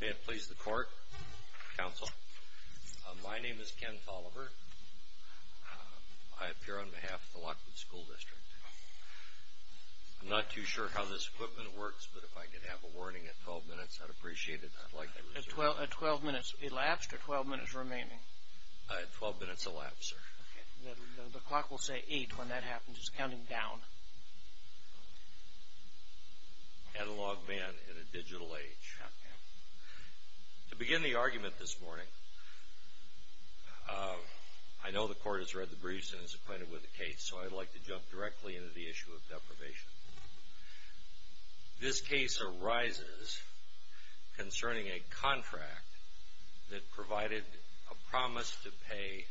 May it please the Court, Counsel, my name is Ken Folliver. I appear on behalf of the Lockwood School District. I'm not too sure how this equipment works, but if I could have a warning at 12 minutes, I'd appreciate it. At 12 minutes elapsed or 12 minutes remaining? At 12 minutes elapsed, sir. The clock will say 8 when that happens. It's counting down. Catalog man in a digital age. To begin the argument this morning, I know the Court has read the briefs and is acquainted with the case, so I'd like to jump directly into the issue of deprivation. This case arises concerning a contract that provided a promise to pay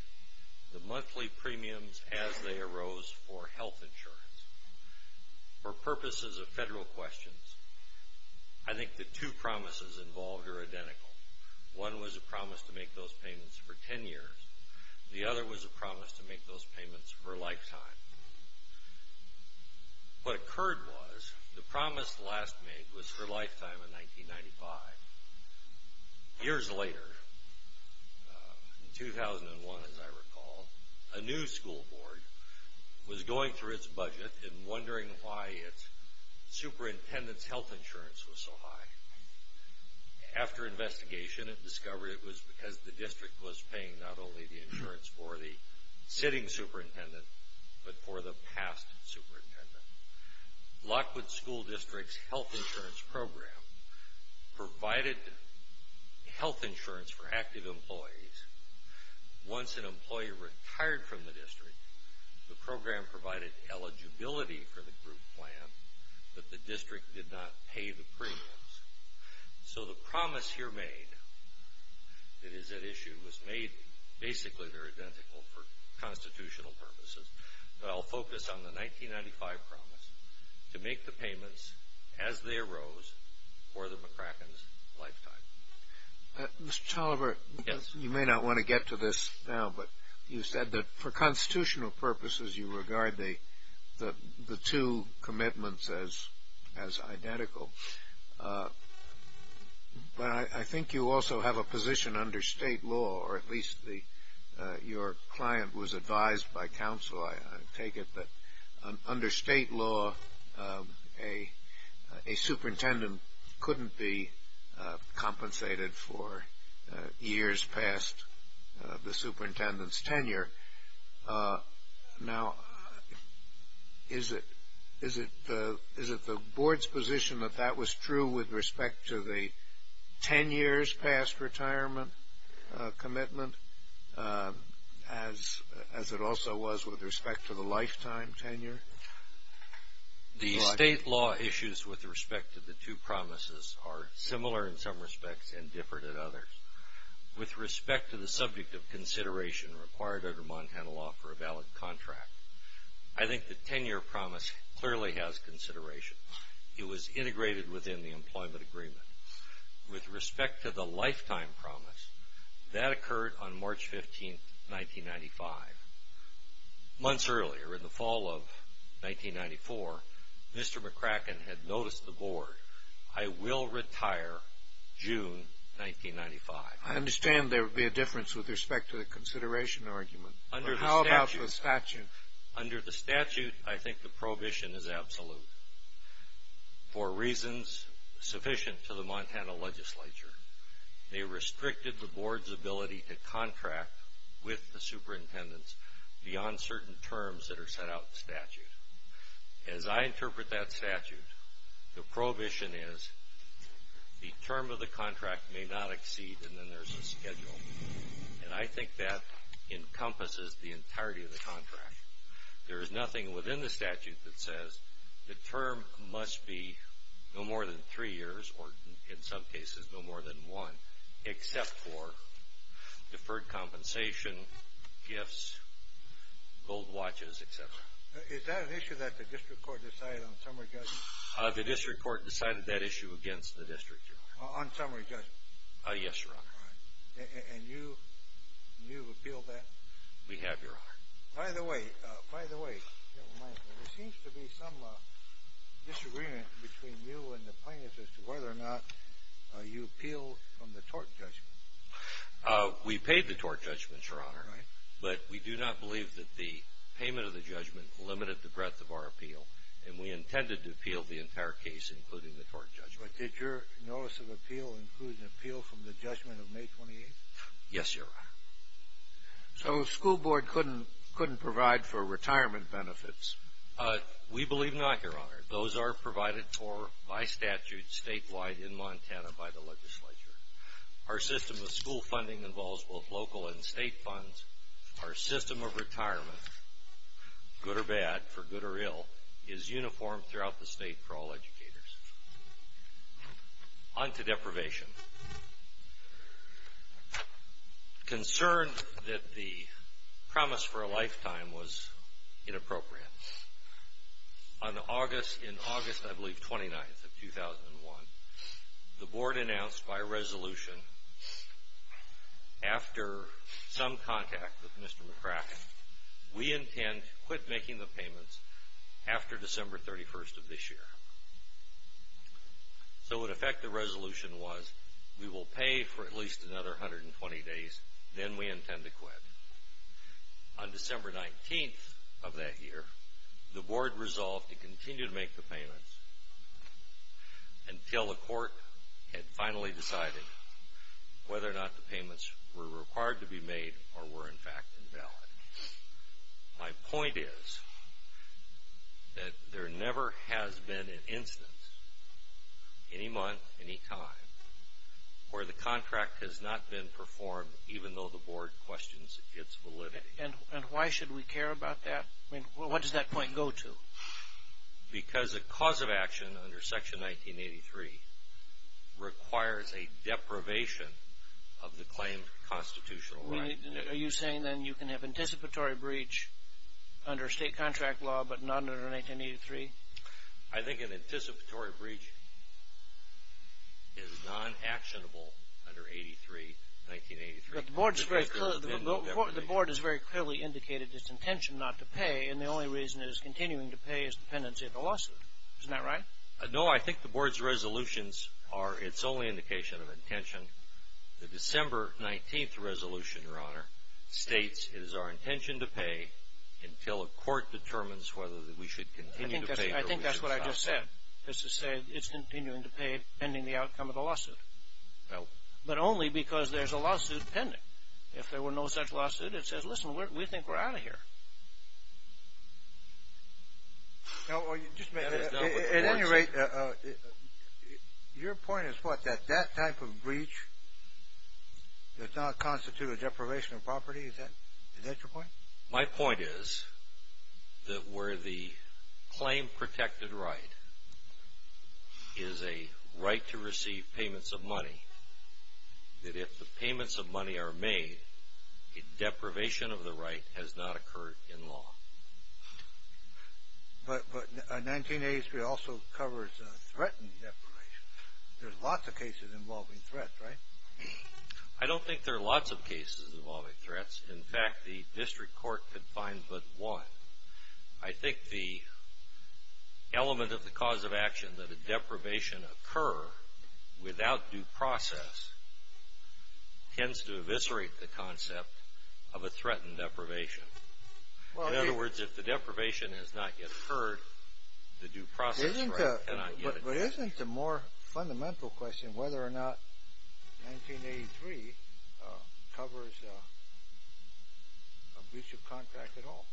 the monthly premiums as they arose for health insurance. For purposes of federal questions, I think the two promises involved are identical. One was a promise to make those payments for 10 years. The other was a promise to make those payments for a lifetime. What occurred was the promise last made was for a lifetime in 1995. Years later, in 2001 as I recall, a new school board was going through its budget and wondering why its superintendent's health insurance was so high. After investigation, it discovered it was because the district was paying not only the insurance for the sitting superintendent, but for the past superintendent. Lockwood School District's health insurance program provided health insurance for active employees. Once an employee retired from the district, the program provided eligibility for the group plan, but the district did not pay the premiums. So the promise here made that is at issue was made basically identical for constitutional purposes. But I'll focus on the 1995 promise to make the payments as they arose for the McCracken's lifetime. Mr. Toliver, you may not want to get to this now, but you said that for constitutional purposes, you regard the two commitments as identical. But I think you also have a position under state law, or at least your client was advised by counsel, I take it, that under state law, a superintendent couldn't be compensated for years past the superintendent's tenure. Now, is it the board's position that that was true with respect to the 10 years past retirement commitment, as it also was with respect to the lifetime tenure? The state law issues with respect to the two promises are similar in some respects and different in others. With respect to the subject of consideration required under Montana law for a valid contract, I think the 10-year promise clearly has consideration. It was integrated within the employment agreement. With respect to the lifetime promise, that occurred on March 15, 1995. Months earlier, in the fall of 1994, Mr. McCracken had noticed the board, I will retire June 1995. I understand there would be a difference with respect to the consideration argument, but how about the statute? Under the statute, I think the prohibition is absolute. For reasons sufficient to the Montana legislature, they restricted the board's ability to contract with the superintendents beyond certain terms that are set out in the statute. As I interpret that statute, the prohibition is the term of the contract may not exceed, and then there's a schedule. And I think that encompasses the entirety of the contract. There is nothing within the statute that says the term must be no more than three years, or in some cases, no more than one, except for deferred compensation, gifts, gold watches, etc. Is that an issue that the district court decided on summary judgment? The district court decided that issue against the district, Your Honor. On summary judgment? Yes, Your Honor. And you appealed that? We have, Your Honor. By the way, by the way, it seems to be some disagreement between you and the plaintiffs as to whether or not you appealed from the tort judgment. We paid the tort judgment, Your Honor. All right. But we do not believe that the payment of the judgment limited the breadth of our appeal, and we intended to appeal the entire case, including the tort judgment. But did your notice of appeal include an appeal from the judgment of May 28th? Yes, Your Honor. So the school board couldn't provide for retirement benefits? We believe not, Your Honor. Those are provided for by statute statewide in Montana by the legislature. Our system of school funding involves both local and state funds. Our system of retirement, good or bad, for good or ill, is uniform throughout the state for all educators. On to deprivation. Concerned that the promise for a lifetime was inappropriate, on August, in August, I believe, 29th of 2001, the board announced by resolution, after some contact with Mr. McCracken, we intend to quit making the payments after December 31st of this year. So, in effect, the resolution was, we will pay for at least another 120 days, then we intend to quit. On December 19th of that year, the board resolved to continue to make the payments until the court had finally decided whether or not the payments were required to be made or were, in fact, invalid. My point is that there never has been an instance, any month, any time, where the contract has not been performed, even though the board questions its validity. And why should we care about that? I mean, what does that point go to? Because a cause of action under Section 1983 requires a deprivation of the claimed constitutional right. Are you saying, then, you can have anticipatory breach under state contract law but not under 1983? I think an anticipatory breach is non-actionable under 1983. But the board is very clearly indicated its intention not to pay, and the only reason it is continuing to pay is dependency of the lawsuit. Isn't that right? No, I think the board's resolutions are its only indication of intention. The December 19th resolution, Your Honor, states it is our intention to pay until a court determines whether we should continue to pay or we should stop paying. I think that's what I just said, is to say it's continuing to pay pending the outcome of the lawsuit, but only because there's a lawsuit pending. If there were no such lawsuit, it says, listen, we think we're out of here. At any rate, your point is what, that that type of breach does not constitute a deprivation of property? Is that your point? My point is that where the claimed protected right is a right to receive payments of money, that if the payments of money are made, a deprivation of the right has not occurred in law. But 1983 also covers a threatened deprivation. There's lots of cases involving threats, right? I don't think there are lots of cases involving threats. In fact, the district court could find but one. I think the element of the cause of action that a deprivation occur without due process tends to eviscerate the concept of a threatened deprivation. In other words, if the deprivation has not yet occurred, the due process right cannot get it. But isn't the more fundamental question whether or not 1983 covers a breach of contract at all?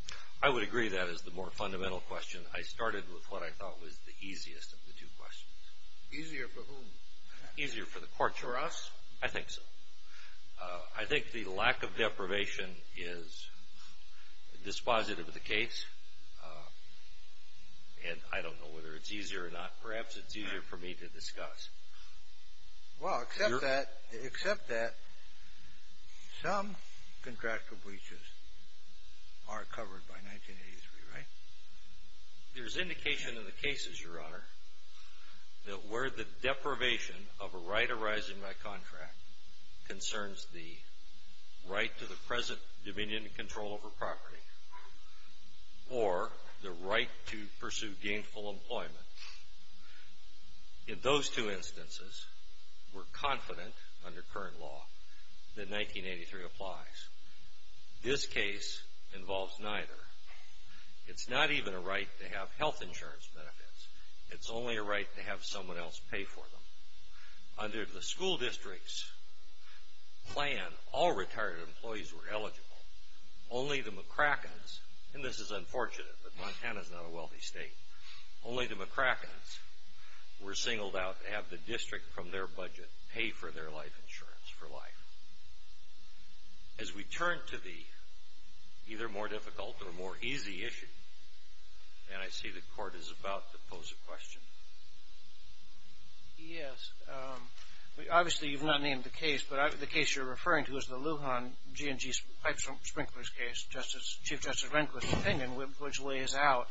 I would agree that is the more fundamental question. I started with what I thought was the easiest of the two questions. Easier for whom? Easier for the courts. For us? I think so. I think the lack of deprivation is dispositive of the case, and I don't know whether it's easier or not. Perhaps it's easier for me to discuss. Well, except that some contractual breaches are covered by 1983, right? There's indication in the cases, Your Honor, that where the deprivation of a right arising by contract concerns the right to the present dominion and control over property or the right to pursue gainful employment. In those two instances, we're confident under current law that 1983 applies. This case involves neither. It's not even a right to have health insurance benefits. It's only a right to have someone else pay for them. Under the school district's plan, all retired employees were eligible. Only the McCrackens, and this is unfortunate, but Montana's not a wealthy state, only the McCrackens were singled out to have the district from their budget pay for their life insurance for life. As we turn to the either more difficult or more easy issue, and I see the Court is about to pose a question. Yes. Obviously, you've not named the case, but the case you're referring to is the Lujan G&G pipe sprinklers case, Chief Justice Rehnquist's opinion, which lays out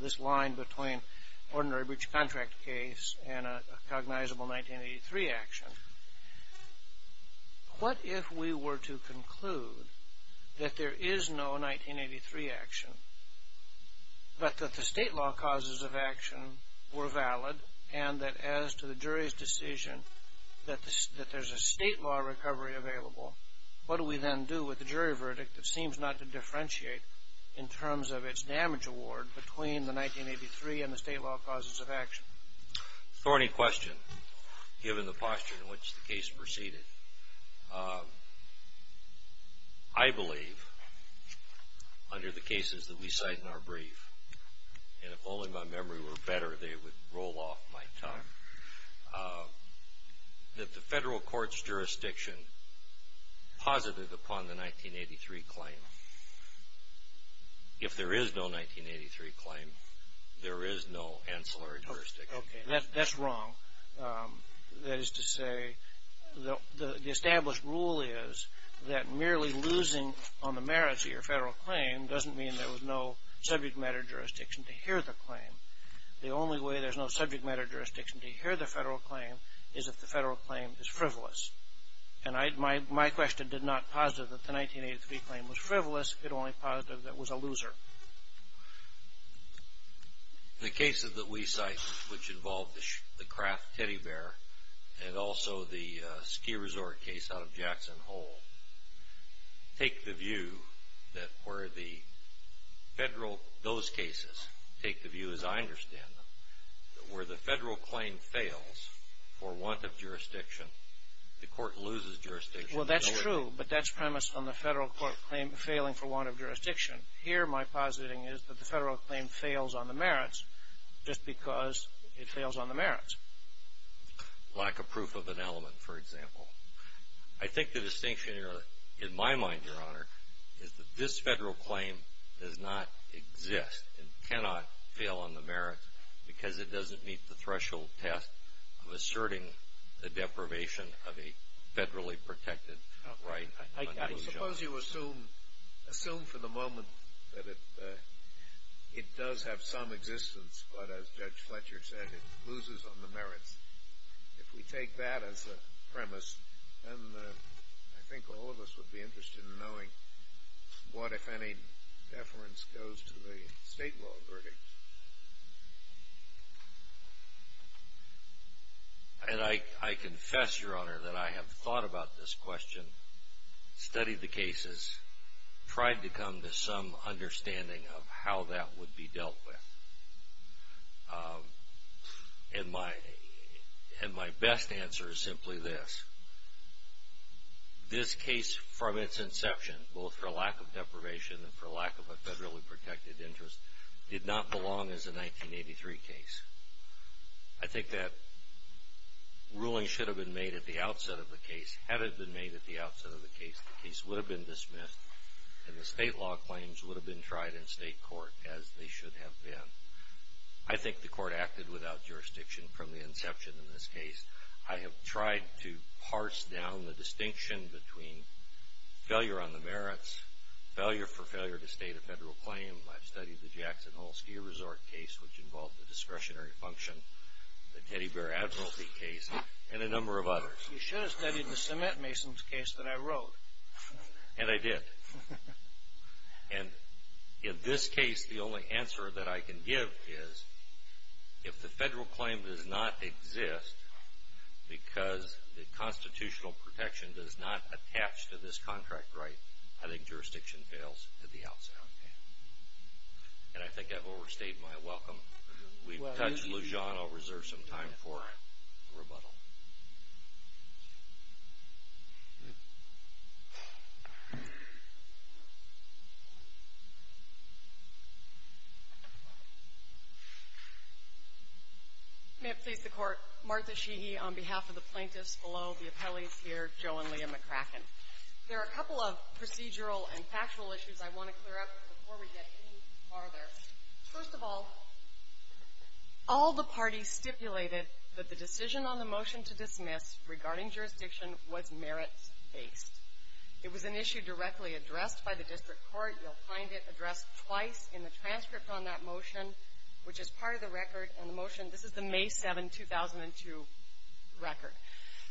this line between ordinary breach of contract case and a cognizable 1983 action. What if we were to conclude that there is no 1983 action, but that the state law causes of action were valid, and that as to the jury's decision that there's a state law recovery available, what do we then do with the jury verdict that seems not to differentiate in terms of its damage award between the 1983 and the state law causes of action? Thorny question, given the posture in which the case proceeded. I believe, under the cases that we cite in our brief, and if only my memory were better, they would roll off my tongue, that the federal court's jurisdiction posited upon the 1983 claim. If there is no 1983 claim, there is no ancillary jurisdiction. Okay, that's wrong. That is to say, the established rule is that merely losing on the merits of your federal claim doesn't mean there was no subject matter jurisdiction to hear the claim. The only way there's no subject matter jurisdiction to hear the federal claim is if the federal claim is frivolous. And my question did not posit that the 1983 claim was frivolous. It only posited that it was a loser. The cases that we cite, which involve the Kraft teddy bear and also the ski resort case out of Jackson Hole, take the view that where the federal – those cases take the view, as I understand them, that where the federal claim fails for want of jurisdiction, the court loses jurisdiction. Well, that's true, but that's premised on the federal court claim failing for want of jurisdiction. Here, my positing is that the federal claim fails on the merits just because it fails on the merits. Lack of proof of an element, for example. I think the distinction in my mind, Your Honor, is that this federal claim does not exist and cannot fail on the merits because it doesn't meet the threshold test of asserting the deprivation of a federally protected right. Suppose you assume for the moment that it does have some existence, but as Judge Fletcher said, it loses on the merits. If we take that as a premise, then I think all of us would be interested in knowing what, if any, deference goes to the state law verdict. And I confess, Your Honor, that I have thought about this question, studied the cases, tried to come to some understanding of how that would be dealt with. And my best answer is simply this. This case, from its inception, both for lack of deprivation and for lack of a federally protected interest, did not belong as a 1983 case. I think that ruling should have been made at the outset of the case. Had it been made at the outset of the case, the case would have been dismissed and the state law claims would have been tried in state court, as they should have been. I think the court acted without jurisdiction from the inception of this case. I have tried to parse down the distinction between failure on the merits, failure for failure to state a federal claim. I've studied the Jackson Hole Ski Resort case, which involved the discretionary function, the Teddy Bear Advocacy case, and a number of others. You should have studied the cement masons case that I wrote. And I did. And in this case, the only answer that I can give is, if the federal claim does not exist because the constitutional protection does not attach to this contract right, I think jurisdiction fails at the outset. And I think I've overstayed my welcome. We've touched Lujan. I'll reserve some time for rebuttal. Martha Sheehy May it please the Court, Martha Sheehy on behalf of the plaintiffs below, the appellees here, Joe and Leah McCracken. There are a couple of procedural and factual issues I want to clear up before we get any farther. First of all, all the parties stipulated that the decision on the motion to dismiss regarding jurisdiction was merits-based. It was an issue directly addressed by the district court. You'll find it addressed twice in the transcript on that motion, which is part of the record. And the motion, this is the May 7, 2002 record.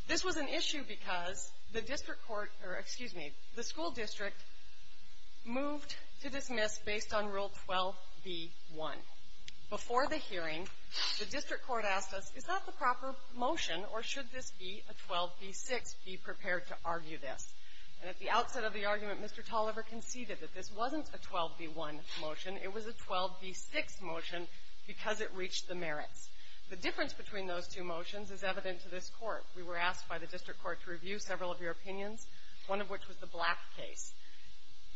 This was an issue because the district court or, excuse me, the school district moved to dismiss based on Rule 12b-1. Before the hearing, the district court asked us, is that the proper motion, or should this be a 12b-6? Be prepared to argue this. And at the outset of the argument, Mr. Tolliver conceded that this wasn't a 12b-1 motion. It was a 12b-6 motion because it reached the merits. The difference between those two motions is evident to this Court. We were asked by the district court to review several of your opinions, one of which was the Black case.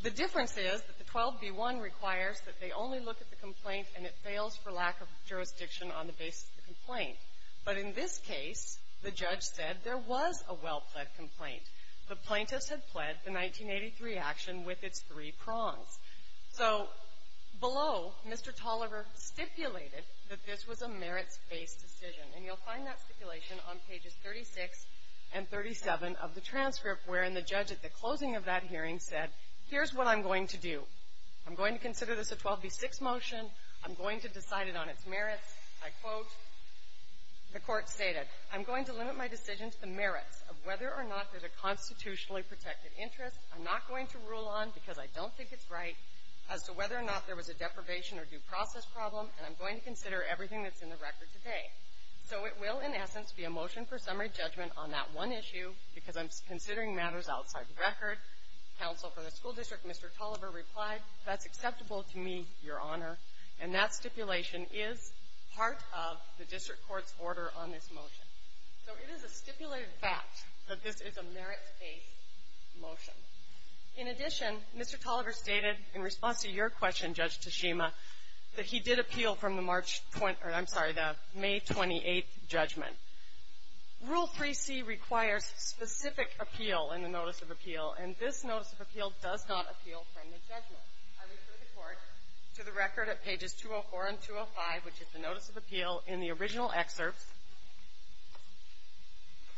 The difference is that the 12b-1 requires that they only look at the complaint, and it fails for lack of jurisdiction on the basis of the complaint. But in this case, the judge said there was a well-pled complaint. The plaintiffs had pled the 1983 action with its three prongs. So below, Mr. Tolliver stipulated that this was a merits-based decision. And you'll find that stipulation on pages 36 and 37 of the transcript, wherein the judge at the closing of that hearing said, here's what I'm going to do. I'm going to consider this a 12b-6 motion. I'm going to decide it on its merits. I quote, the Court stated, I'm going to limit my decision to the merits of whether or not there's a constitutionally protected interest. I'm not going to rule on, because I don't think it's right, as to whether or not there was a deprivation or due process problem, and I'm going to consider everything that's in the record today. So it will, in essence, be a motion for summary judgment on that one issue, because I'm considering matters outside the record. Counsel for the school district, Mr. Tolliver, replied, that's acceptable to me, Your Honor. And that stipulation is part of the district court's order on this motion. So it is a stipulated fact that this is a merits-based motion. In addition, Mr. Tolliver stated, in response to your question, Judge Tashima, that he did appeal from the March 20th or, I'm sorry, the May 28th judgment. Rule 3C requires specific appeal in the notice of appeal, and this notice of appeal does not appeal from the judgment. I refer the Court to the record at pages 204 and 205, which is the notice of appeal in the original excerpt.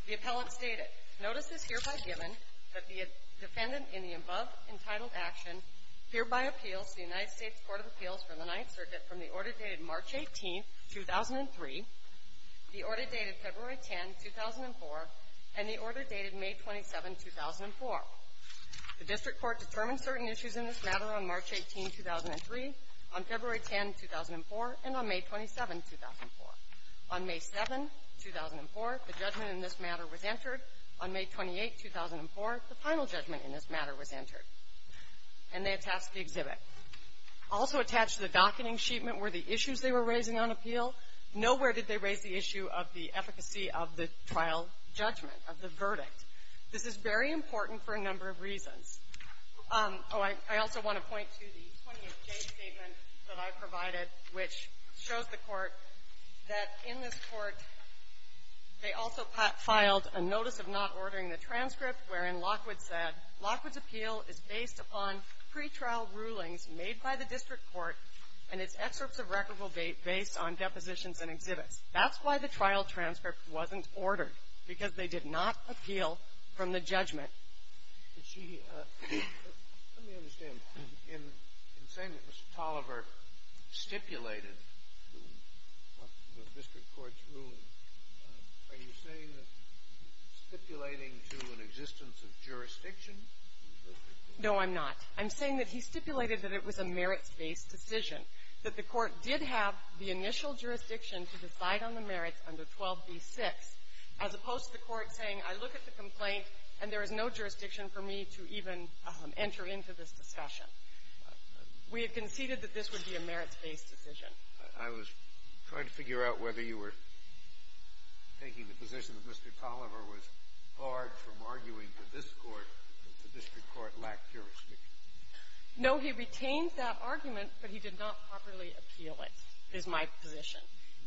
The appellant stated, Notice is hereby given that the defendant in the above entitled action hereby appeals to the United States Court of Appeals for the Ninth Circuit from the order dated March 18th, 2003, the order dated February 10, 2004, and the order dated May 27, 2004. The district court determined certain issues in this matter on March 18, 2003, on February 10, 2004, and on May 27, 2004. On May 7, 2004, the judgment in this matter was entered. On May 28, 2004, the final judgment in this matter was entered. And they attached the exhibit. Also attached to the docketing sheet meant were the issues they were raising on appeal. Nowhere did they raise the issue of the efficacy of the trial judgment, of the verdict. This is very important for a number of reasons. Oh, I also want to point to the 20th day statement that I provided, which shows the court that in this court, they also filed a notice of not ordering the transcript wherein Lockwood said, Lockwood's appeal is based upon pretrial rulings made by the district court, and its excerpts of record will be based on depositions and exhibits. That's why the trial transcript wasn't ordered, because they did not appeal from the judgment. Kennedy. Let me understand. In saying that Mr. Tolliver stipulated the district court's ruling, are you saying that he's stipulating to an existence of jurisdiction? No, I'm not. I'm saying that he stipulated that it was a merits-based decision, that the court did have the initial jurisdiction to decide on the merits under 12b-6, as opposed to the court saying, I look at the complaint and there is no jurisdiction for me to even enter into this discussion. We have conceded that this would be a merits-based decision. I was trying to figure out whether you were taking the position that Mr. Tolliver was barred from arguing that this court, the district court, lacked jurisdiction. No, he retained that argument, but he did not properly appeal it, is my position.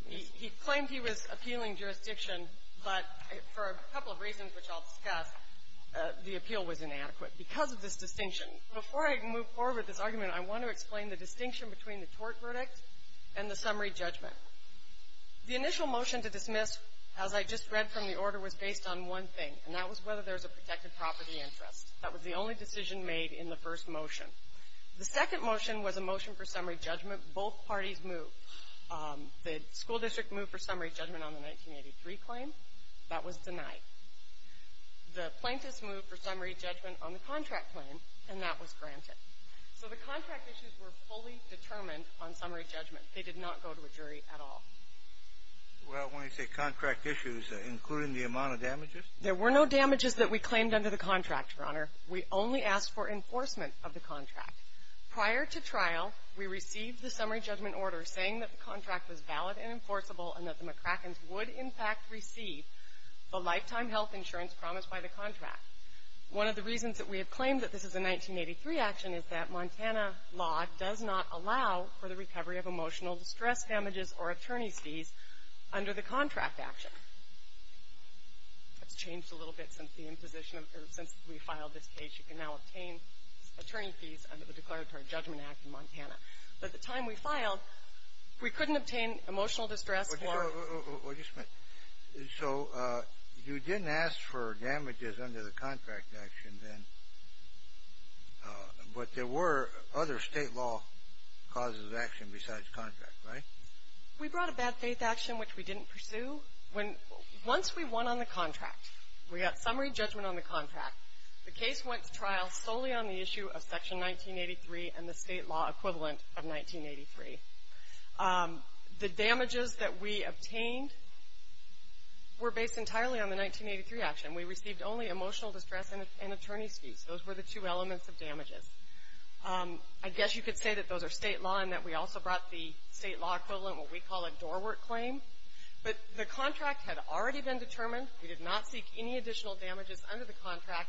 He claimed he was appealing jurisdiction, but for a couple of reasons which I'll discuss, the appeal was inadequate because of this distinction. Before I move forward with this argument, I want to explain the distinction between the tort verdict and the summary judgment. The initial motion to dismiss, as I just read from the order, was based on one thing, and that was whether there was a protected property interest. That was the only decision made in the first motion. The second motion was a motion for summary judgment. Both parties moved. The school district moved for summary judgment on the 1983 claim. That was denied. The plaintiffs moved for summary judgment on the contract claim, and that was granted. So the contract issues were fully determined on summary judgment. They did not go to a jury at all. Well, when you say contract issues, including the amount of damages? There were no damages that we claimed under the contract, Your Honor. We only asked for enforcement of the contract. Prior to trial, we received the summary judgment order saying that the contract was valid and enforceable, and that the McCrackens would, in fact, receive the lifetime health insurance promised by the contract. One of the reasons that we have claimed that this is a 1983 action is that Montana law does not allow for the recovery of emotional distress damages or attorney's fees under the contract action. That's changed a little bit since the imposition of the – since we filed this case. You can now obtain attorney fees under the Declaratory Judgment Act in Montana. By the time we filed, we couldn't obtain emotional distress for – So you didn't ask for damages under the contract action then, but there were other state law causes of action besides contract, right? We brought a bad faith action, which we didn't pursue. Once we won on the contract, we got summary judgment on the contract. The case went to trial solely on the issue of Section 1983 and the state law equivalent of 1983. The damages that we obtained were based entirely on the 1983 action. We received only emotional distress and attorney's fees. Those were the two elements of damages. I guess you could say that those are state law and that we also brought the state law equivalent, what we call a doorwork claim. But the contract had already been determined. We did not seek any additional damages under the contract.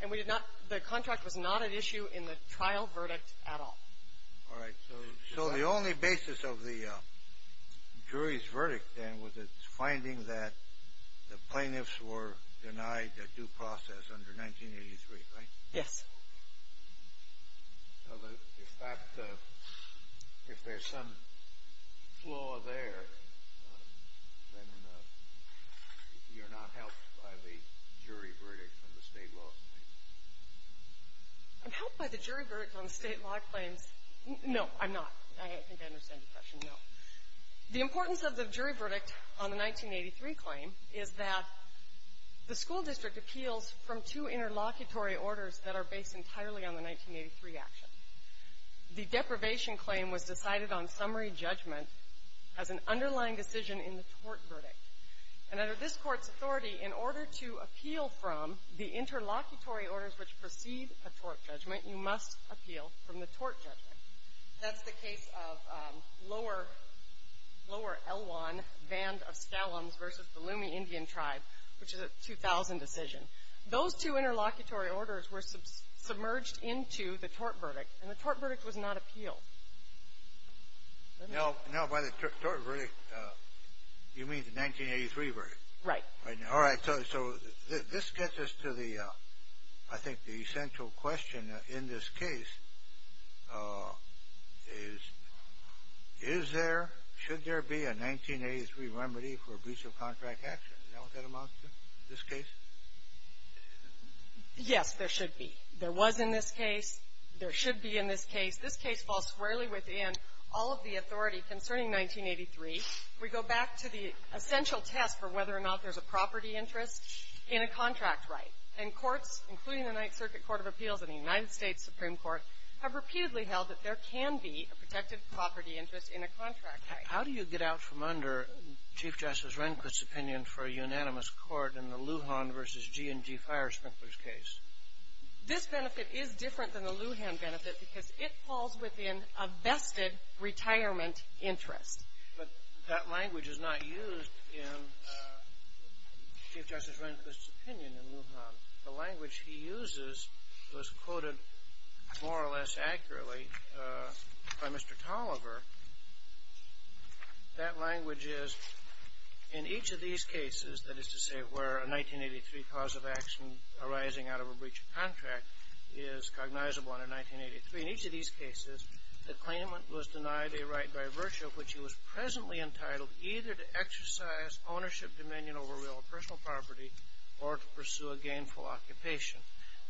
And we did not – the contract was not at issue in the trial verdict at all. All right. So the only basis of the jury's verdict then was its finding that the plaintiffs were denied a due process under 1983, right? Yes. Well, if that – if there's some flaw there, then you're not helped by the jury verdict on the state law claim. I'm helped by the jury verdict on the state law claims. No, I'm not. I don't think I understand your question. No. The importance of the jury verdict on the 1983 claim is that the school district appeals from two interlocutory orders that are based entirely on the 1983 action. The deprivation claim was decided on summary judgment as an underlying decision in the tort verdict. And under this Court's authority, in order to appeal from the interlocutory orders which precede a tort judgment, you must appeal from the tort judgment. That's the case of Lower Elwhan Band of Skallams versus the Lumi Indian Tribe, which is a 2000 decision. Those two interlocutory orders were submerged into the tort verdict, and the tort verdict was not appealed. Now, by the tort verdict, you mean the 1983 verdict? Right. All right. So this gets us to the – I think the central question in this case is, is there – should there be a 1983 remedy for abuse of contract action? Is that what that amounts to, this case? Yes, there should be. There was in this case. There should be in this case. This case falls squarely within all of the authority concerning 1983. We go back to the essential test for whether or not there's a property interest in a contract right. And courts, including the Ninth Circuit Court of Appeals and the United States Supreme Court, have repeatedly held that there can be a protected property interest in a contract How do you get out from under Chief Justice Rehnquist's opinion for a unanimous court in the Lujan versus G&G Firespinkler's case? This benefit is different than the Lujan benefit because it falls within a vested retirement interest. But that language is not used in Chief Justice Rehnquist's opinion in Lujan. The language he uses was quoted more or less accurately by Mr. Tolliver. That language is, in each of these cases, that is to say where a 1983 cause of action arising out of a breach of contract is cognizable under 1983, in each of these cases, the claimant was denied a right by virtue of which he was presently entitled either to exercise ownership dominion over real or personal property or to pursue a gainful occupation.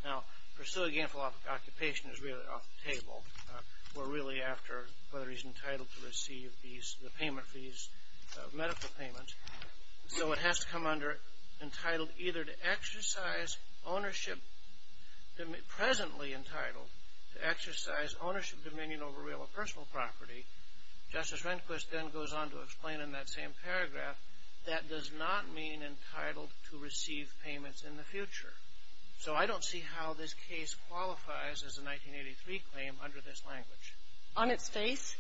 Now, pursue a gainful occupation is really off the table. We're really after whether he's entitled to receive the payment fees, medical payments. So it has to come under entitled either to exercise ownership, presently entitled to exercise ownership dominion over real or personal property. Justice Rehnquist then goes on to explain in that same paragraph that does not mean entitled to receive payments in the future. So I don't see how this case qualifies as a 1983 claim under this language. On its face?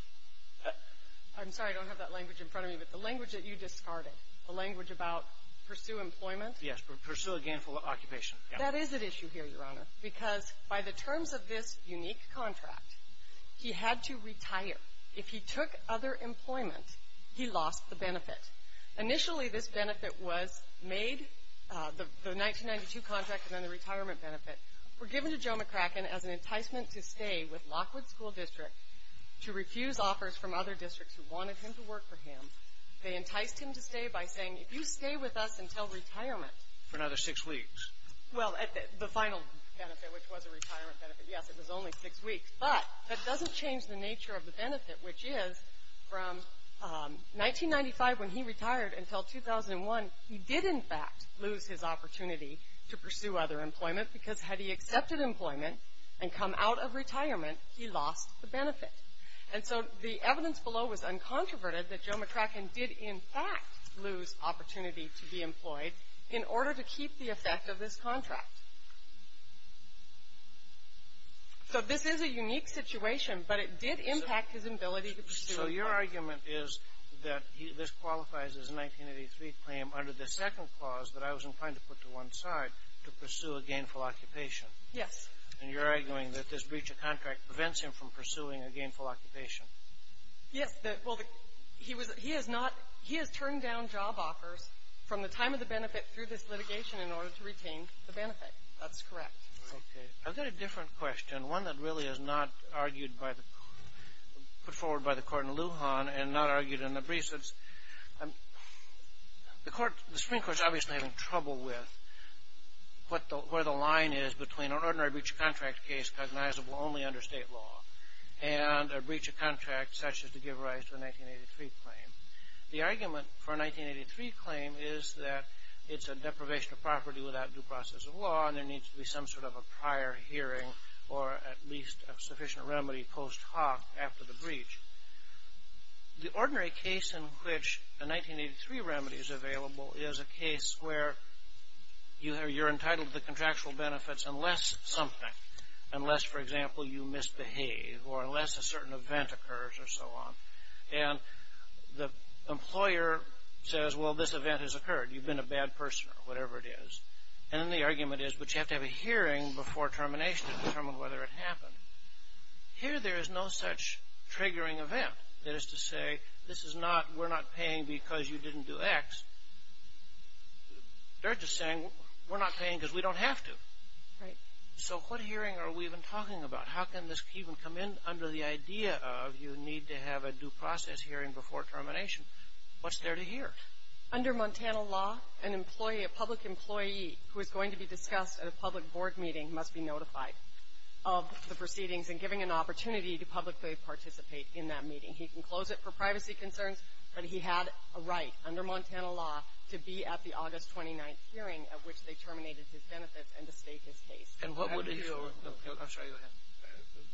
I'm sorry. I don't have that language in front of me. But the language that you discarded, the language about pursue employment? Yes. Pursue a gainful occupation. That is at issue here, Your Honor, because by the terms of this unique contract, he had to retire. If he took other employment, he lost the benefit. Initially, this benefit was made, the 1992 contract and then the retirement benefit, were given to Joe McCracken as an enticement to stay with Lockwood School District to refuse offers from other districts who wanted him to work for him. They enticed him to stay by saying, if you stay with us until retirement. For another six weeks. Well, the final benefit, which was a retirement benefit, yes, it was only six weeks. But that doesn't change the nature of the benefit, which is from 1995, when he retired, until 2001, he did, in fact, lose his opportunity to pursue other employment because had he accepted employment and come out of retirement, he lost the benefit. And so the evidence below was uncontroverted that Joe McCracken did, in fact, lose opportunity to be employed in order to keep the effect of this contract. So this is a unique situation, but it did impact his ability to pursue employment. So your argument is that this qualifies as a 1983 claim under the second clause that I was inclined to put to one side, to pursue a gainful occupation. Yes. And you're arguing that this breach of contract prevents him from pursuing a gainful occupation. Yes. Well, he was — he has not — he has turned down job offers from the time of the benefit through this litigation in order to retain the benefit. That's correct. Okay. I've got a different question, one that really is not argued by the — put forward by the court in Lujan and not argued in the briefs. It's — the court — the Supreme Court is obviously having trouble with where the line is between an ordinary breach of contract case cognizable only under state law and a breach of contract such as to give rise to a 1983 claim. The argument for a 1983 claim is that it's a deprivation of property without due process of law and there needs to be some sort of a prior hearing or at least a sufficient remedy post hoc after the breach. The ordinary case in which a 1983 remedy is available is a case where you're entitled to the contractual benefits unless something — unless, for example, you misbehave or unless a certain event occurs or so on. And the employer says, well, this event has occurred. You've been a bad person or whatever it is. And then the argument is, but you have to have a hearing before termination to determine whether it happened. Here there is no such triggering event. That is to say, this is not — we're not paying because you didn't do X. They're just saying, we're not paying because we don't have to. Right. So what hearing are we even talking about? How can this even come in under the idea of you need to have a due process hearing before termination? What's there to hear? Under Montana law, an employee — a public employee who is going to be discussed at a public board meeting must be notified of the proceedings and given an opportunity to publicly participate in that meeting. He can close it for privacy concerns, but he had a right under Montana law to be at the August 29th hearing at which they terminated his benefits and to state his case. And what would — I'm sure you have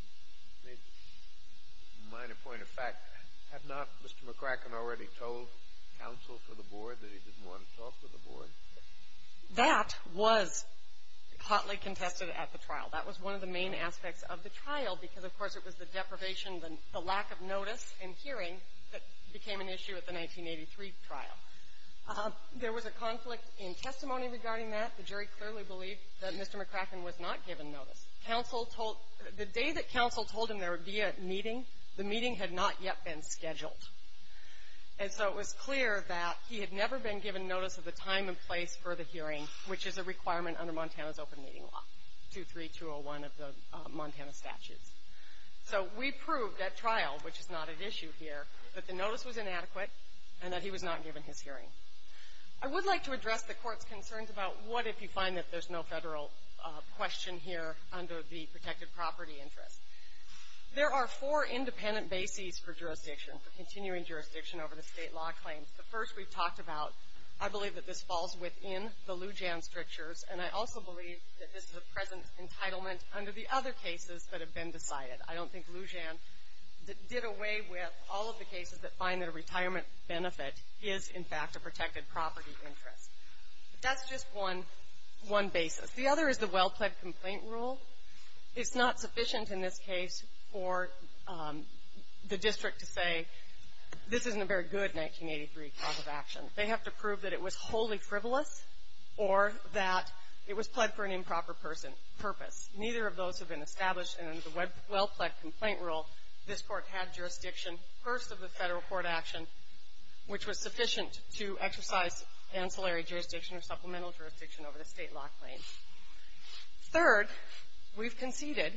— A minor point of fact. Had not Mr. McCracken already told counsel for the board that he didn't want to talk to the board? That was hotly contested at the trial. That was one of the main aspects of the trial because, of course, it was the deprivation, the lack of notice and hearing that became an issue at the 1983 trial. There was a conflict in testimony regarding that. The jury clearly believed that Mr. McCracken was not given notice. Counsel told — the day that counsel told him there would be a meeting, the meeting had not yet been scheduled. And so it was clear that he had never been given notice of the time and place for the hearing, which is a requirement under Montana's open meeting law, 23201 of the Montana statutes. So we proved at trial, which is not at issue here, that the notice was inadequate and that he was not given his hearing. I would like to address the Court's concerns about what if you find that there's no federal question here under the protected property interest. There are four independent bases for jurisdiction, for continuing jurisdiction over the state law claims. The first we've talked about. I believe that this falls within the Lujan strictures, and I also believe that this is a present entitlement under the other cases that have been decided. I don't think Lujan did away with all of the cases that find that a retirement benefit is, in fact, a protected property interest. But that's just one basis. The other is the well-pled complaint rule. It's not sufficient in this case for the district to say this isn't a very good 1983 cause of action. They have to prove that it was wholly frivolous or that it was pled for an improper purpose. Neither of those have been established, and under the well-pled complaint rule, this Court had jurisdiction, first of the federal court action, which was sufficient to exercise ancillary jurisdiction or supplemental jurisdiction over the state law claims. Third, we've conceded,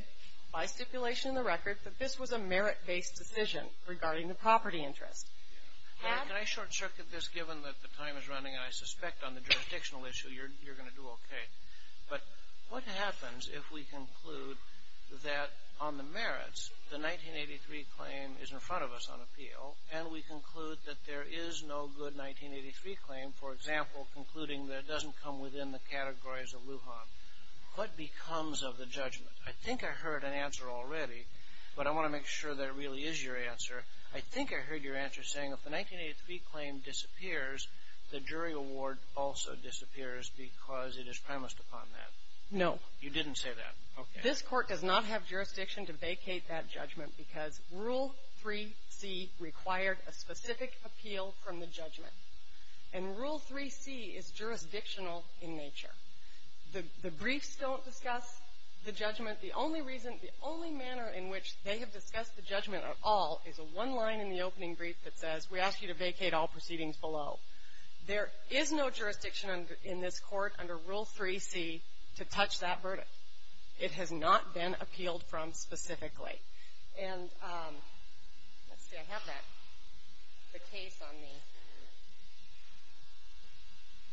by stipulation in the record, that this was a merit-based decision regarding the property interest. Can I short-circuit this, given that the time is running, and I suspect on the jurisdictional issue you're going to do okay. But what happens if we conclude that on the merits, the 1983 claim is in front of us on appeal, and we conclude that there is no good 1983 claim, for example, concluding that it doesn't come within the categories of Lujan? What becomes of the judgment? I think I heard an answer already, but I want to make sure that really is your answer. I think I heard your answer saying if the 1983 claim disappears, the jury award also disappears, because it is promised upon that. No. You didn't say that. Okay. This Court does not have jurisdiction to vacate that judgment, because Rule 3C required a specific appeal from the judgment. And Rule 3C is jurisdictional in nature. The briefs don't discuss the judgment. The only reason, the only manner in which they have discussed the judgment at all is a one line in the opening brief that says, we ask you to vacate all proceedings below. There is no jurisdiction in this Court under Rule 3C to touch that verdict. It has not been appealed from specifically. And let's see, I have the case on me.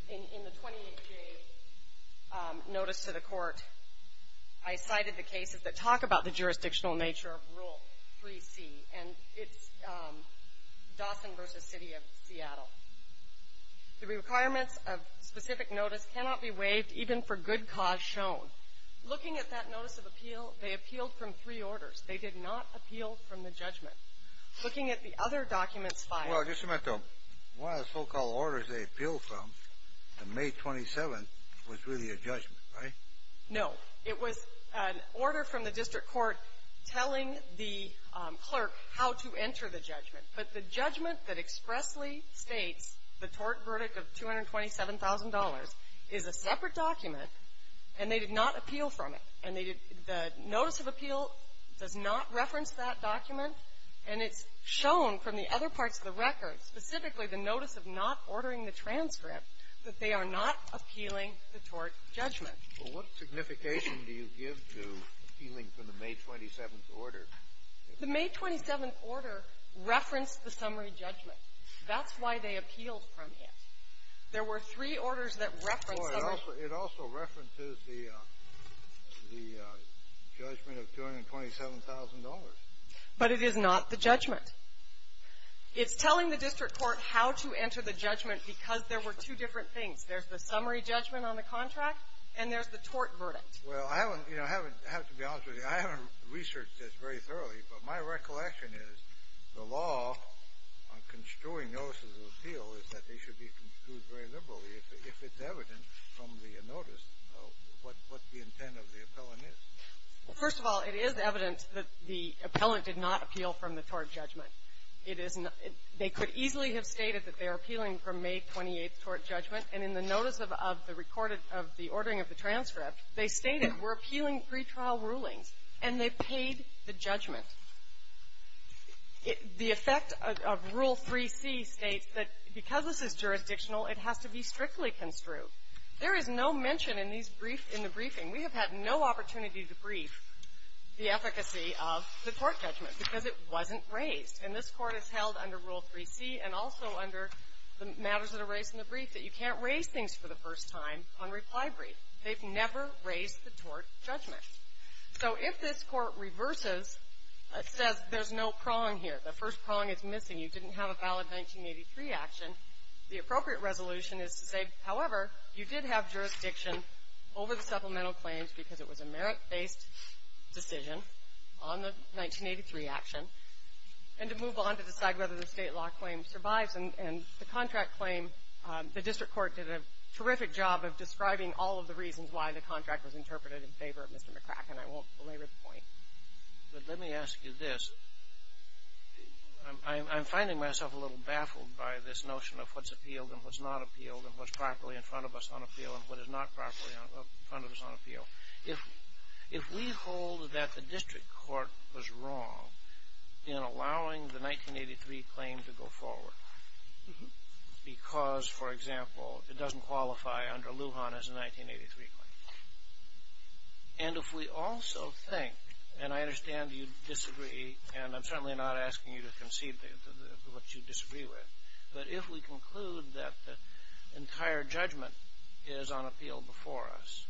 In the 28-day notice to the Court, I cited the cases that talk about the jurisdictional nature of Rule 3C. And it's Dawson v. City of Seattle. The requirements of specific notice cannot be waived even for good cause shown. Looking at that notice of appeal, they appealed from three orders. They did not appeal from the judgment. Looking at the other documents filed. Well, just a minute, though. One of the so-called orders they appealed from, the May 27th, was really a judgment, right? No. It was an order from the district court telling the clerk how to enter the judgment. But the judgment that expressly states the tort verdict of $227,000 is a separate document, and they did not appeal from it. And they did the notice of appeal does not reference that document. And it's shown from the other parts of the record, specifically the notice of not ordering the transcript, that they are not appealing the tort judgment. Well, what signification do you give to appealing from the May 27th order? The May 27th order referenced the summary judgment. That's why they appealed from it. There were three orders that referenced the order. It also references the judgment of $227,000. But it is not the judgment. It's telling the district court how to enter the judgment because there were two different things. There's the summary judgment on the contract, and there's the tort verdict. Well, I haven't, you know, I haven't, to be honest with you, I haven't researched this very thoroughly. But my recollection is the law on construing notices of appeal is that they should be construed very liberally, if it's evident from the notice of what the intent of the appellant is. First of all, it is evident that the appellant did not appeal from the tort judgment. It is not they could easily have stated that they are appealing from May 28th tort judgment, and in the notice of the recorded of the ordering of the transcript, they stated we're appealing pretrial rulings, and they paid the judgment. The effect of Rule 3C states that because this is jurisdictional, it has to be strictly construed. There is no mention in these briefs in the briefing. We have had no opportunity to brief the efficacy of the tort judgment because it wasn't raised. And this Court has held under Rule 3C and also under the matters that are raised in the brief that you can't raise things for the first time on reply brief. They've never raised the tort judgment. So if this Court reverses, says there's no prong here, the first prong is missing, you didn't have a valid 1983 action, the appropriate resolution is to say, however, you did have jurisdiction over the supplemental claims because it was a merit-based decision on the 1983 action, and to move on to decide whether the state law claim survives. And the contract claim, the district court did a terrific job of describing all of the reasons why the contract was interpreted in favor of Mr. McCracken. I won't belabor the point. But let me ask you this. I'm finding myself a little baffled by this notion of what's appealed and what's not appealed and what's properly in front of us on appeal and what is not properly in front of us on appeal. If we hold that the district court was wrong in allowing the 1983 claim to go forward because, for example, it doesn't qualify under Lujan as a 1983 claim. And if we also think, and I understand you disagree, and I'm certainly not asking you to concede to what you disagree with, but if we conclude that the entire judgment is on appeal before us,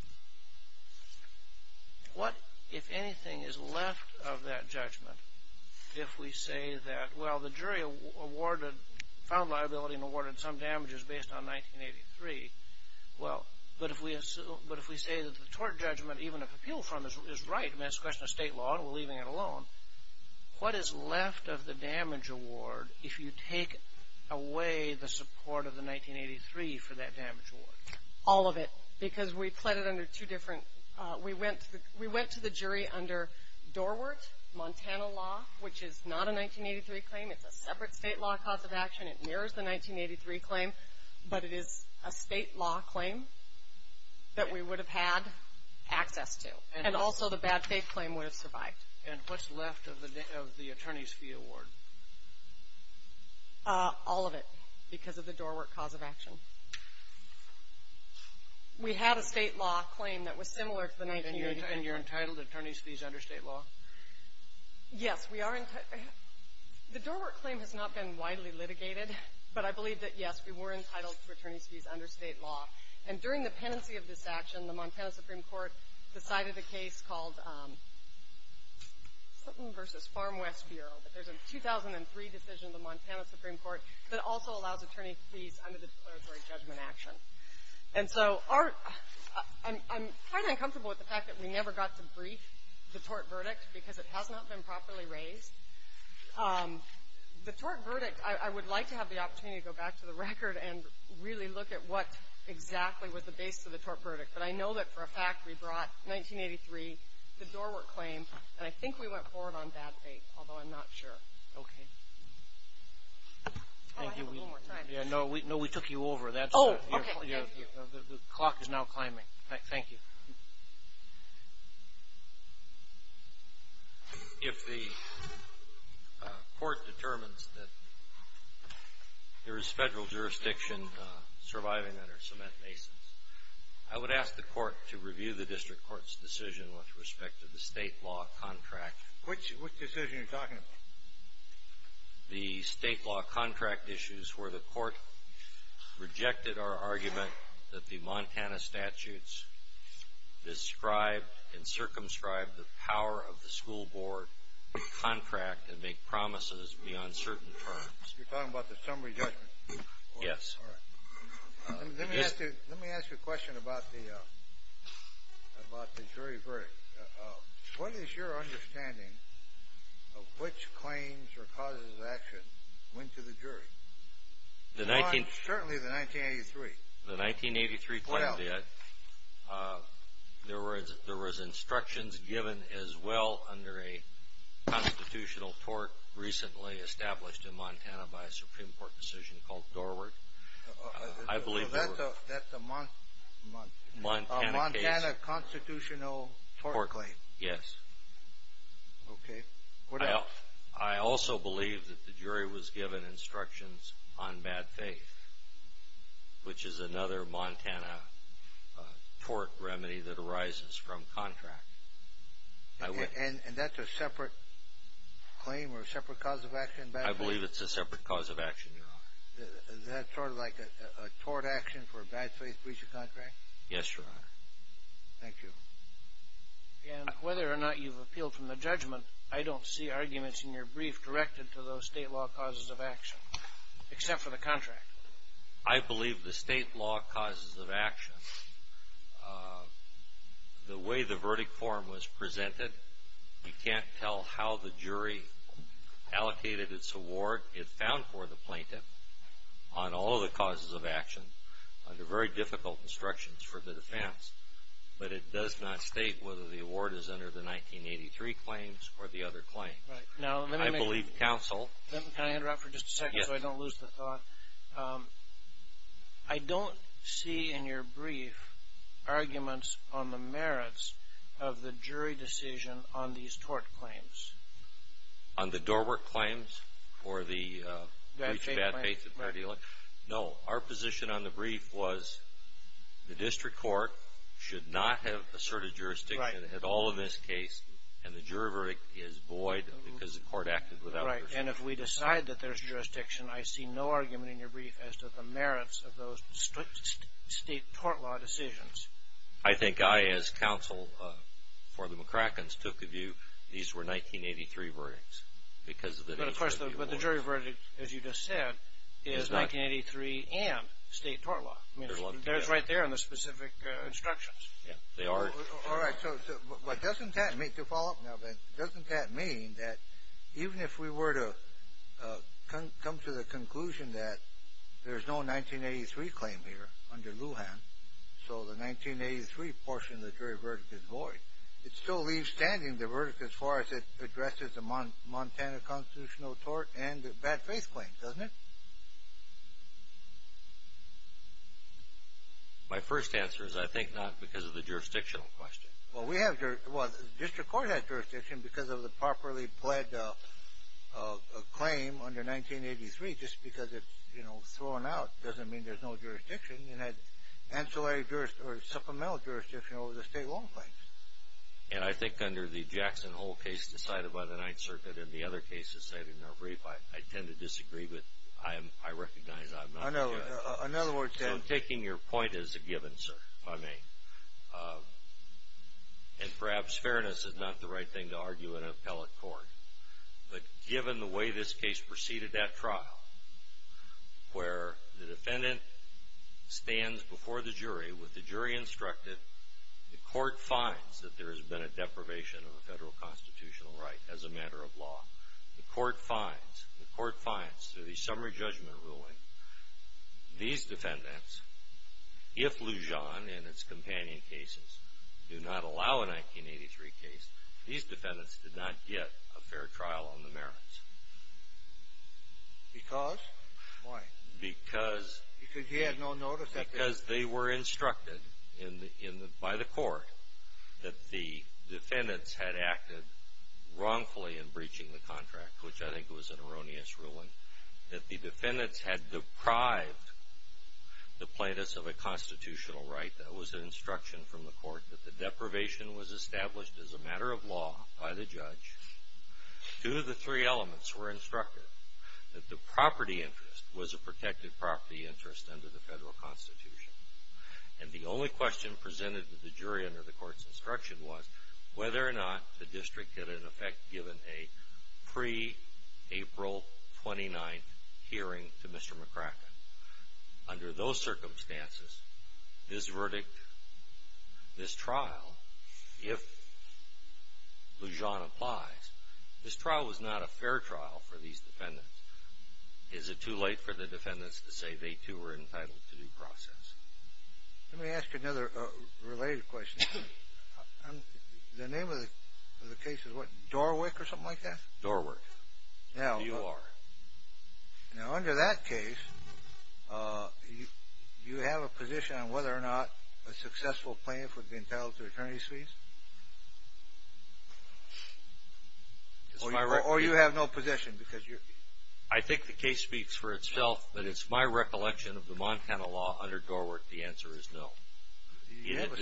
what, if anything, is left of that judgment if we say that, well, the jury found liability and awarded some damages based on 1983. Well, but if we say that the tort judgment, even if appealed from it, is right, and that's a question of state law and we're leaving it alone, what is left of the All of it. Because we pled it under two different, we went to the jury under Dorwart, Montana law, which is not a 1983 claim. It's a separate state law cause of action. It mirrors the 1983 claim. But it is a state law claim that we would have had access to. And also the bad faith claim would have survived. And what's left of the attorney's fee award? All of it, because of the Dorwart cause of action. We have a state law claim that was similar to the 1983. And you're entitled to attorney's fees under state law? Yes, we are. The Dorwart claim has not been widely litigated, but I believe that, yes, we were entitled to attorney's fees under state law. And during the pendency of this action, the Montana Supreme Court decided a case called Sutton v. Farmwest Bureau. There's a 2003 decision of the Montana Supreme Court that also allows attorney's fees under the declaratory judgment action. And so I'm kind of uncomfortable with the fact that we never got to brief the Dorwart verdict because it has not been properly raised. The Dorwart verdict, I would like to have the opportunity to go back to the record and really look at what exactly was the basis of the Dorwart verdict. But I know that, for a fact, we brought 1983, the Dorwart claim, and I think we went forward on that date, although I'm not sure. Okay. I have a little more time. No, we took you over. Oh, okay. Thank you. The clock is now climbing. Thank you. If the court determines that there is federal jurisdiction surviving under cement I would ask the court to review the district court's decision with respect to the state law contract. Which decision are you talking about? The state law contract issues where the court rejected our argument that the Montana statutes described and circumscribed the power of the school board to contract and make promises beyond certain terms. You're talking about the summary judgment? Yes. All right. Let me ask you a question about the jury verdict. What is your understanding of which claims or causes of action went to the jury? Certainly the 1983. The 1983 claim, there was instructions given as well under a constitutional tort recently established in Montana by a Supreme Court decision called Dorward. That's a Montana constitutional tort claim? Yes. Okay. I also believe that the jury was given instructions on bad faith, which is another Montana tort remedy that arises from contract. And that's a separate claim or a separate cause of action? I believe it's a separate cause of action, Your Honor. Is that sort of like a tort action for a bad faith breach of contract? Yes, Your Honor. Thank you. And whether or not you've appealed from the judgment, I don't see arguments in your brief directed to those state law causes of action, except for the contract. I believe the state law causes of action, the way the verdict form was presented, you can't tell how the jury allocated its award it found for the plaintiff on all the causes of action under very difficult instructions for the defense. But it does not state whether the award is under the 1983 claims or the other claims. Right. Now let me make... I believe counsel... I don't see in your brief arguments on the merits of the jury decision on these tort claims. On the doorwork claims or the breach of bad faith? Right. No. Our position on the brief was the district court should not have asserted jurisdiction in all of this case, and the jury verdict is void because the court acted without jurisdiction. Right. I don't recognize the merits of those state tort law decisions. I think I, as counsel for the McCrackens, took the view these were 1983 verdicts because of the... But of course, the jury verdict, as you just said, is 1983 and state tort law. There's right there in the specific instructions. Yeah. They are. All right. So doesn't that make... To follow up now, Ben, doesn't that mean that even if we were to come to the conclusion that there's no 1983 claim here under Lujan, so the 1983 portion of the jury verdict is void, it still leaves standing the verdict as far as it addresses the Montana constitutional tort and the bad faith claim, doesn't it? My first answer is I think not because of the jurisdictional question. Well, we have... Well, the district court has jurisdiction because of the properly pled claim under 1983. Just because it's, you know, thrown out doesn't mean there's no jurisdiction in that ancillary jurisdiction or supplemental jurisdiction over the state law claims. And I think under the Jackson Hole case decided by the Ninth Circuit and the other cases cited in our brief, I tend to disagree with... I recognize I'm not... In other words... So I'm taking your point as a given, sir, if I may. And perhaps fairness is not the right thing to argue in an appellate court. But given the way this case proceeded at trial, where the defendant stands before the jury with the jury instructed, the court finds that there has been a deprivation of a federal constitutional right as a matter of law. The court finds, the court finds through the summary judgment ruling, these defendants, if Lujan and its companion cases do not allow a 1983 case, these defendants will not have a fair trial on the merits. Because? Why? Because... Because he had no notice that they... Because they were instructed by the court that the defendants had acted wrongfully in breaching the contract, which I think was an erroneous ruling, that the defendants had deprived the plaintiffs of a constitutional right. That was an instruction from the court that the deprivation was established as a matter of law. Two of the three elements were instructed. That the property interest was a protected property interest under the federal constitution. And the only question presented to the jury under the court's instruction was whether or not the district had, in effect, given a pre-April 29th hearing to Mr. McCracken. Under those circumstances, this verdict, this trial, if Lujan applies, this trial was not a fair trial for these defendants. Is it too late for the defendants to say they too were entitled to due process? Let me ask you another related question. The name of the case is what? Dorwick or something like that? Dorwick. Now... You are. Now, under that case, do you have a position on whether or not a successful plaintiff would be entitled to attorney's fees? Or you have no position because you're... I think the case speaks for itself, but it's my recollection of the Montana law under Dorwick, the answer is no.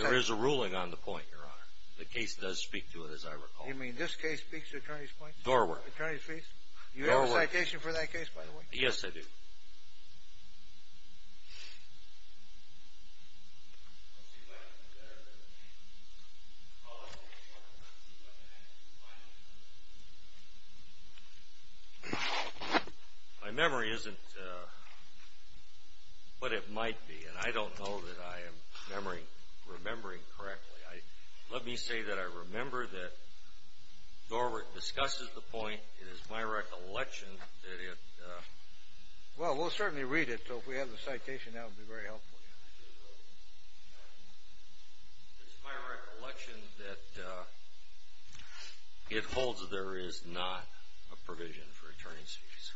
There is a ruling on the point, Your Honor. The case does speak to it, as I recall. You mean this case speaks to attorney's fees? Dorwick. Attorney's fees? Do you have a citation for that case, by the way? Yes, I do. My memory isn't what it might be, and I don't know that I am remembering correctly. Let me say that I remember that Dorwick discusses the point. It is my recollection that it... Well, we'll certainly read it, so if we have the citation, that would be very helpful. It's my recollection that it holds there is not a provision for attorney's fees.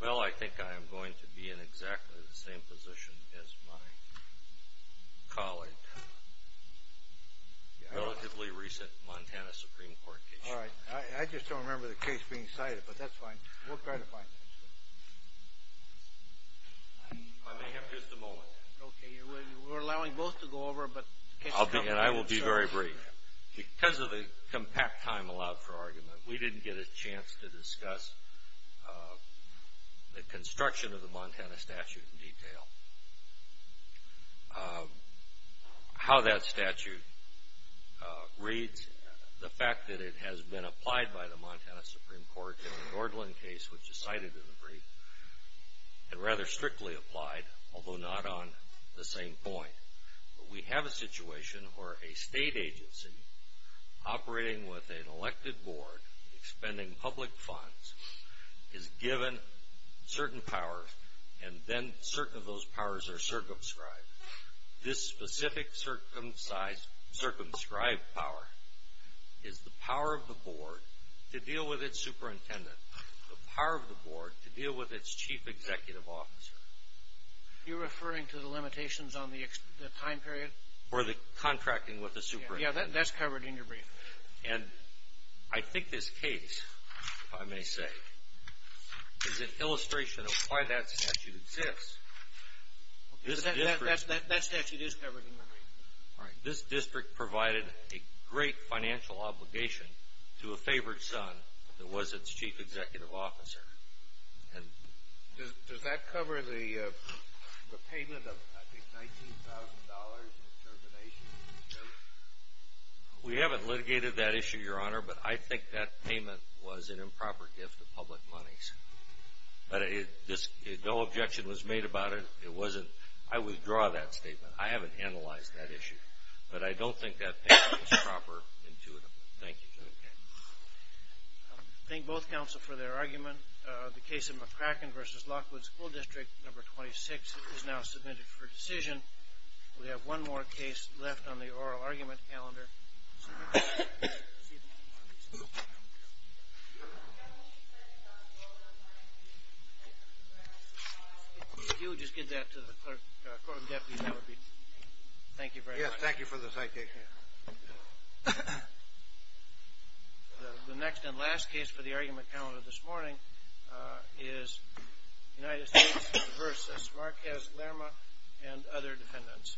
Well, I think I am going to be in exactly the same position as my colleague. Relatively recent Montana Supreme Court case. All right. I just don't remember the case being cited, but that's fine. We'll try to find it. I may have just a moment. Okay. We're allowing both to go over, but... And I will be very brief. Because of the compact time allowed for argument, we didn't get a chance to discuss the construction of the Montana statute in detail. How that statute reads, the fact that it has been applied by the Montana Supreme Court in the Gordland case, which is cited in the brief, and rather strictly applied, although not on the same point. We have a situation where a state agency operating with an elected board, expending public funds, is given certain powers, and then certain of those powers are circumscribed. This specific circumscribed power is the power of the board to deal with its superintendent, the power of the board to deal with its chief executive officer. You're referring to the limitations on the time period? Or the contracting with the superintendent. Yeah, that's covered in your brief. And I think this case, if I may say, is an illustration of why that statute exists. That statute is covered in your brief. All right. This district provided a great financial obligation to a favored son that was its chief executive officer. Does that cover the payment of, I think, $19,000 in extermination? We haven't litigated that issue, Your Honor, but I think that payment was an improper gift of public money. But no objection was made about it. It wasn't. I withdraw that statement. I haven't analyzed that issue. But I don't think that payment was proper, intuitive. Thank you. I thank both counsel for their argument. The case of McCracken v. Lockwood School District No. 26 is now submitted for decision. We have one more case left on the oral argument calendar. If you would just give that to the court of deputies, that would be. Thank you very much. Yes, thank you for the citation. The next and last case for the argument calendar this morning is United States v. Marquez-Lerma and other defendants.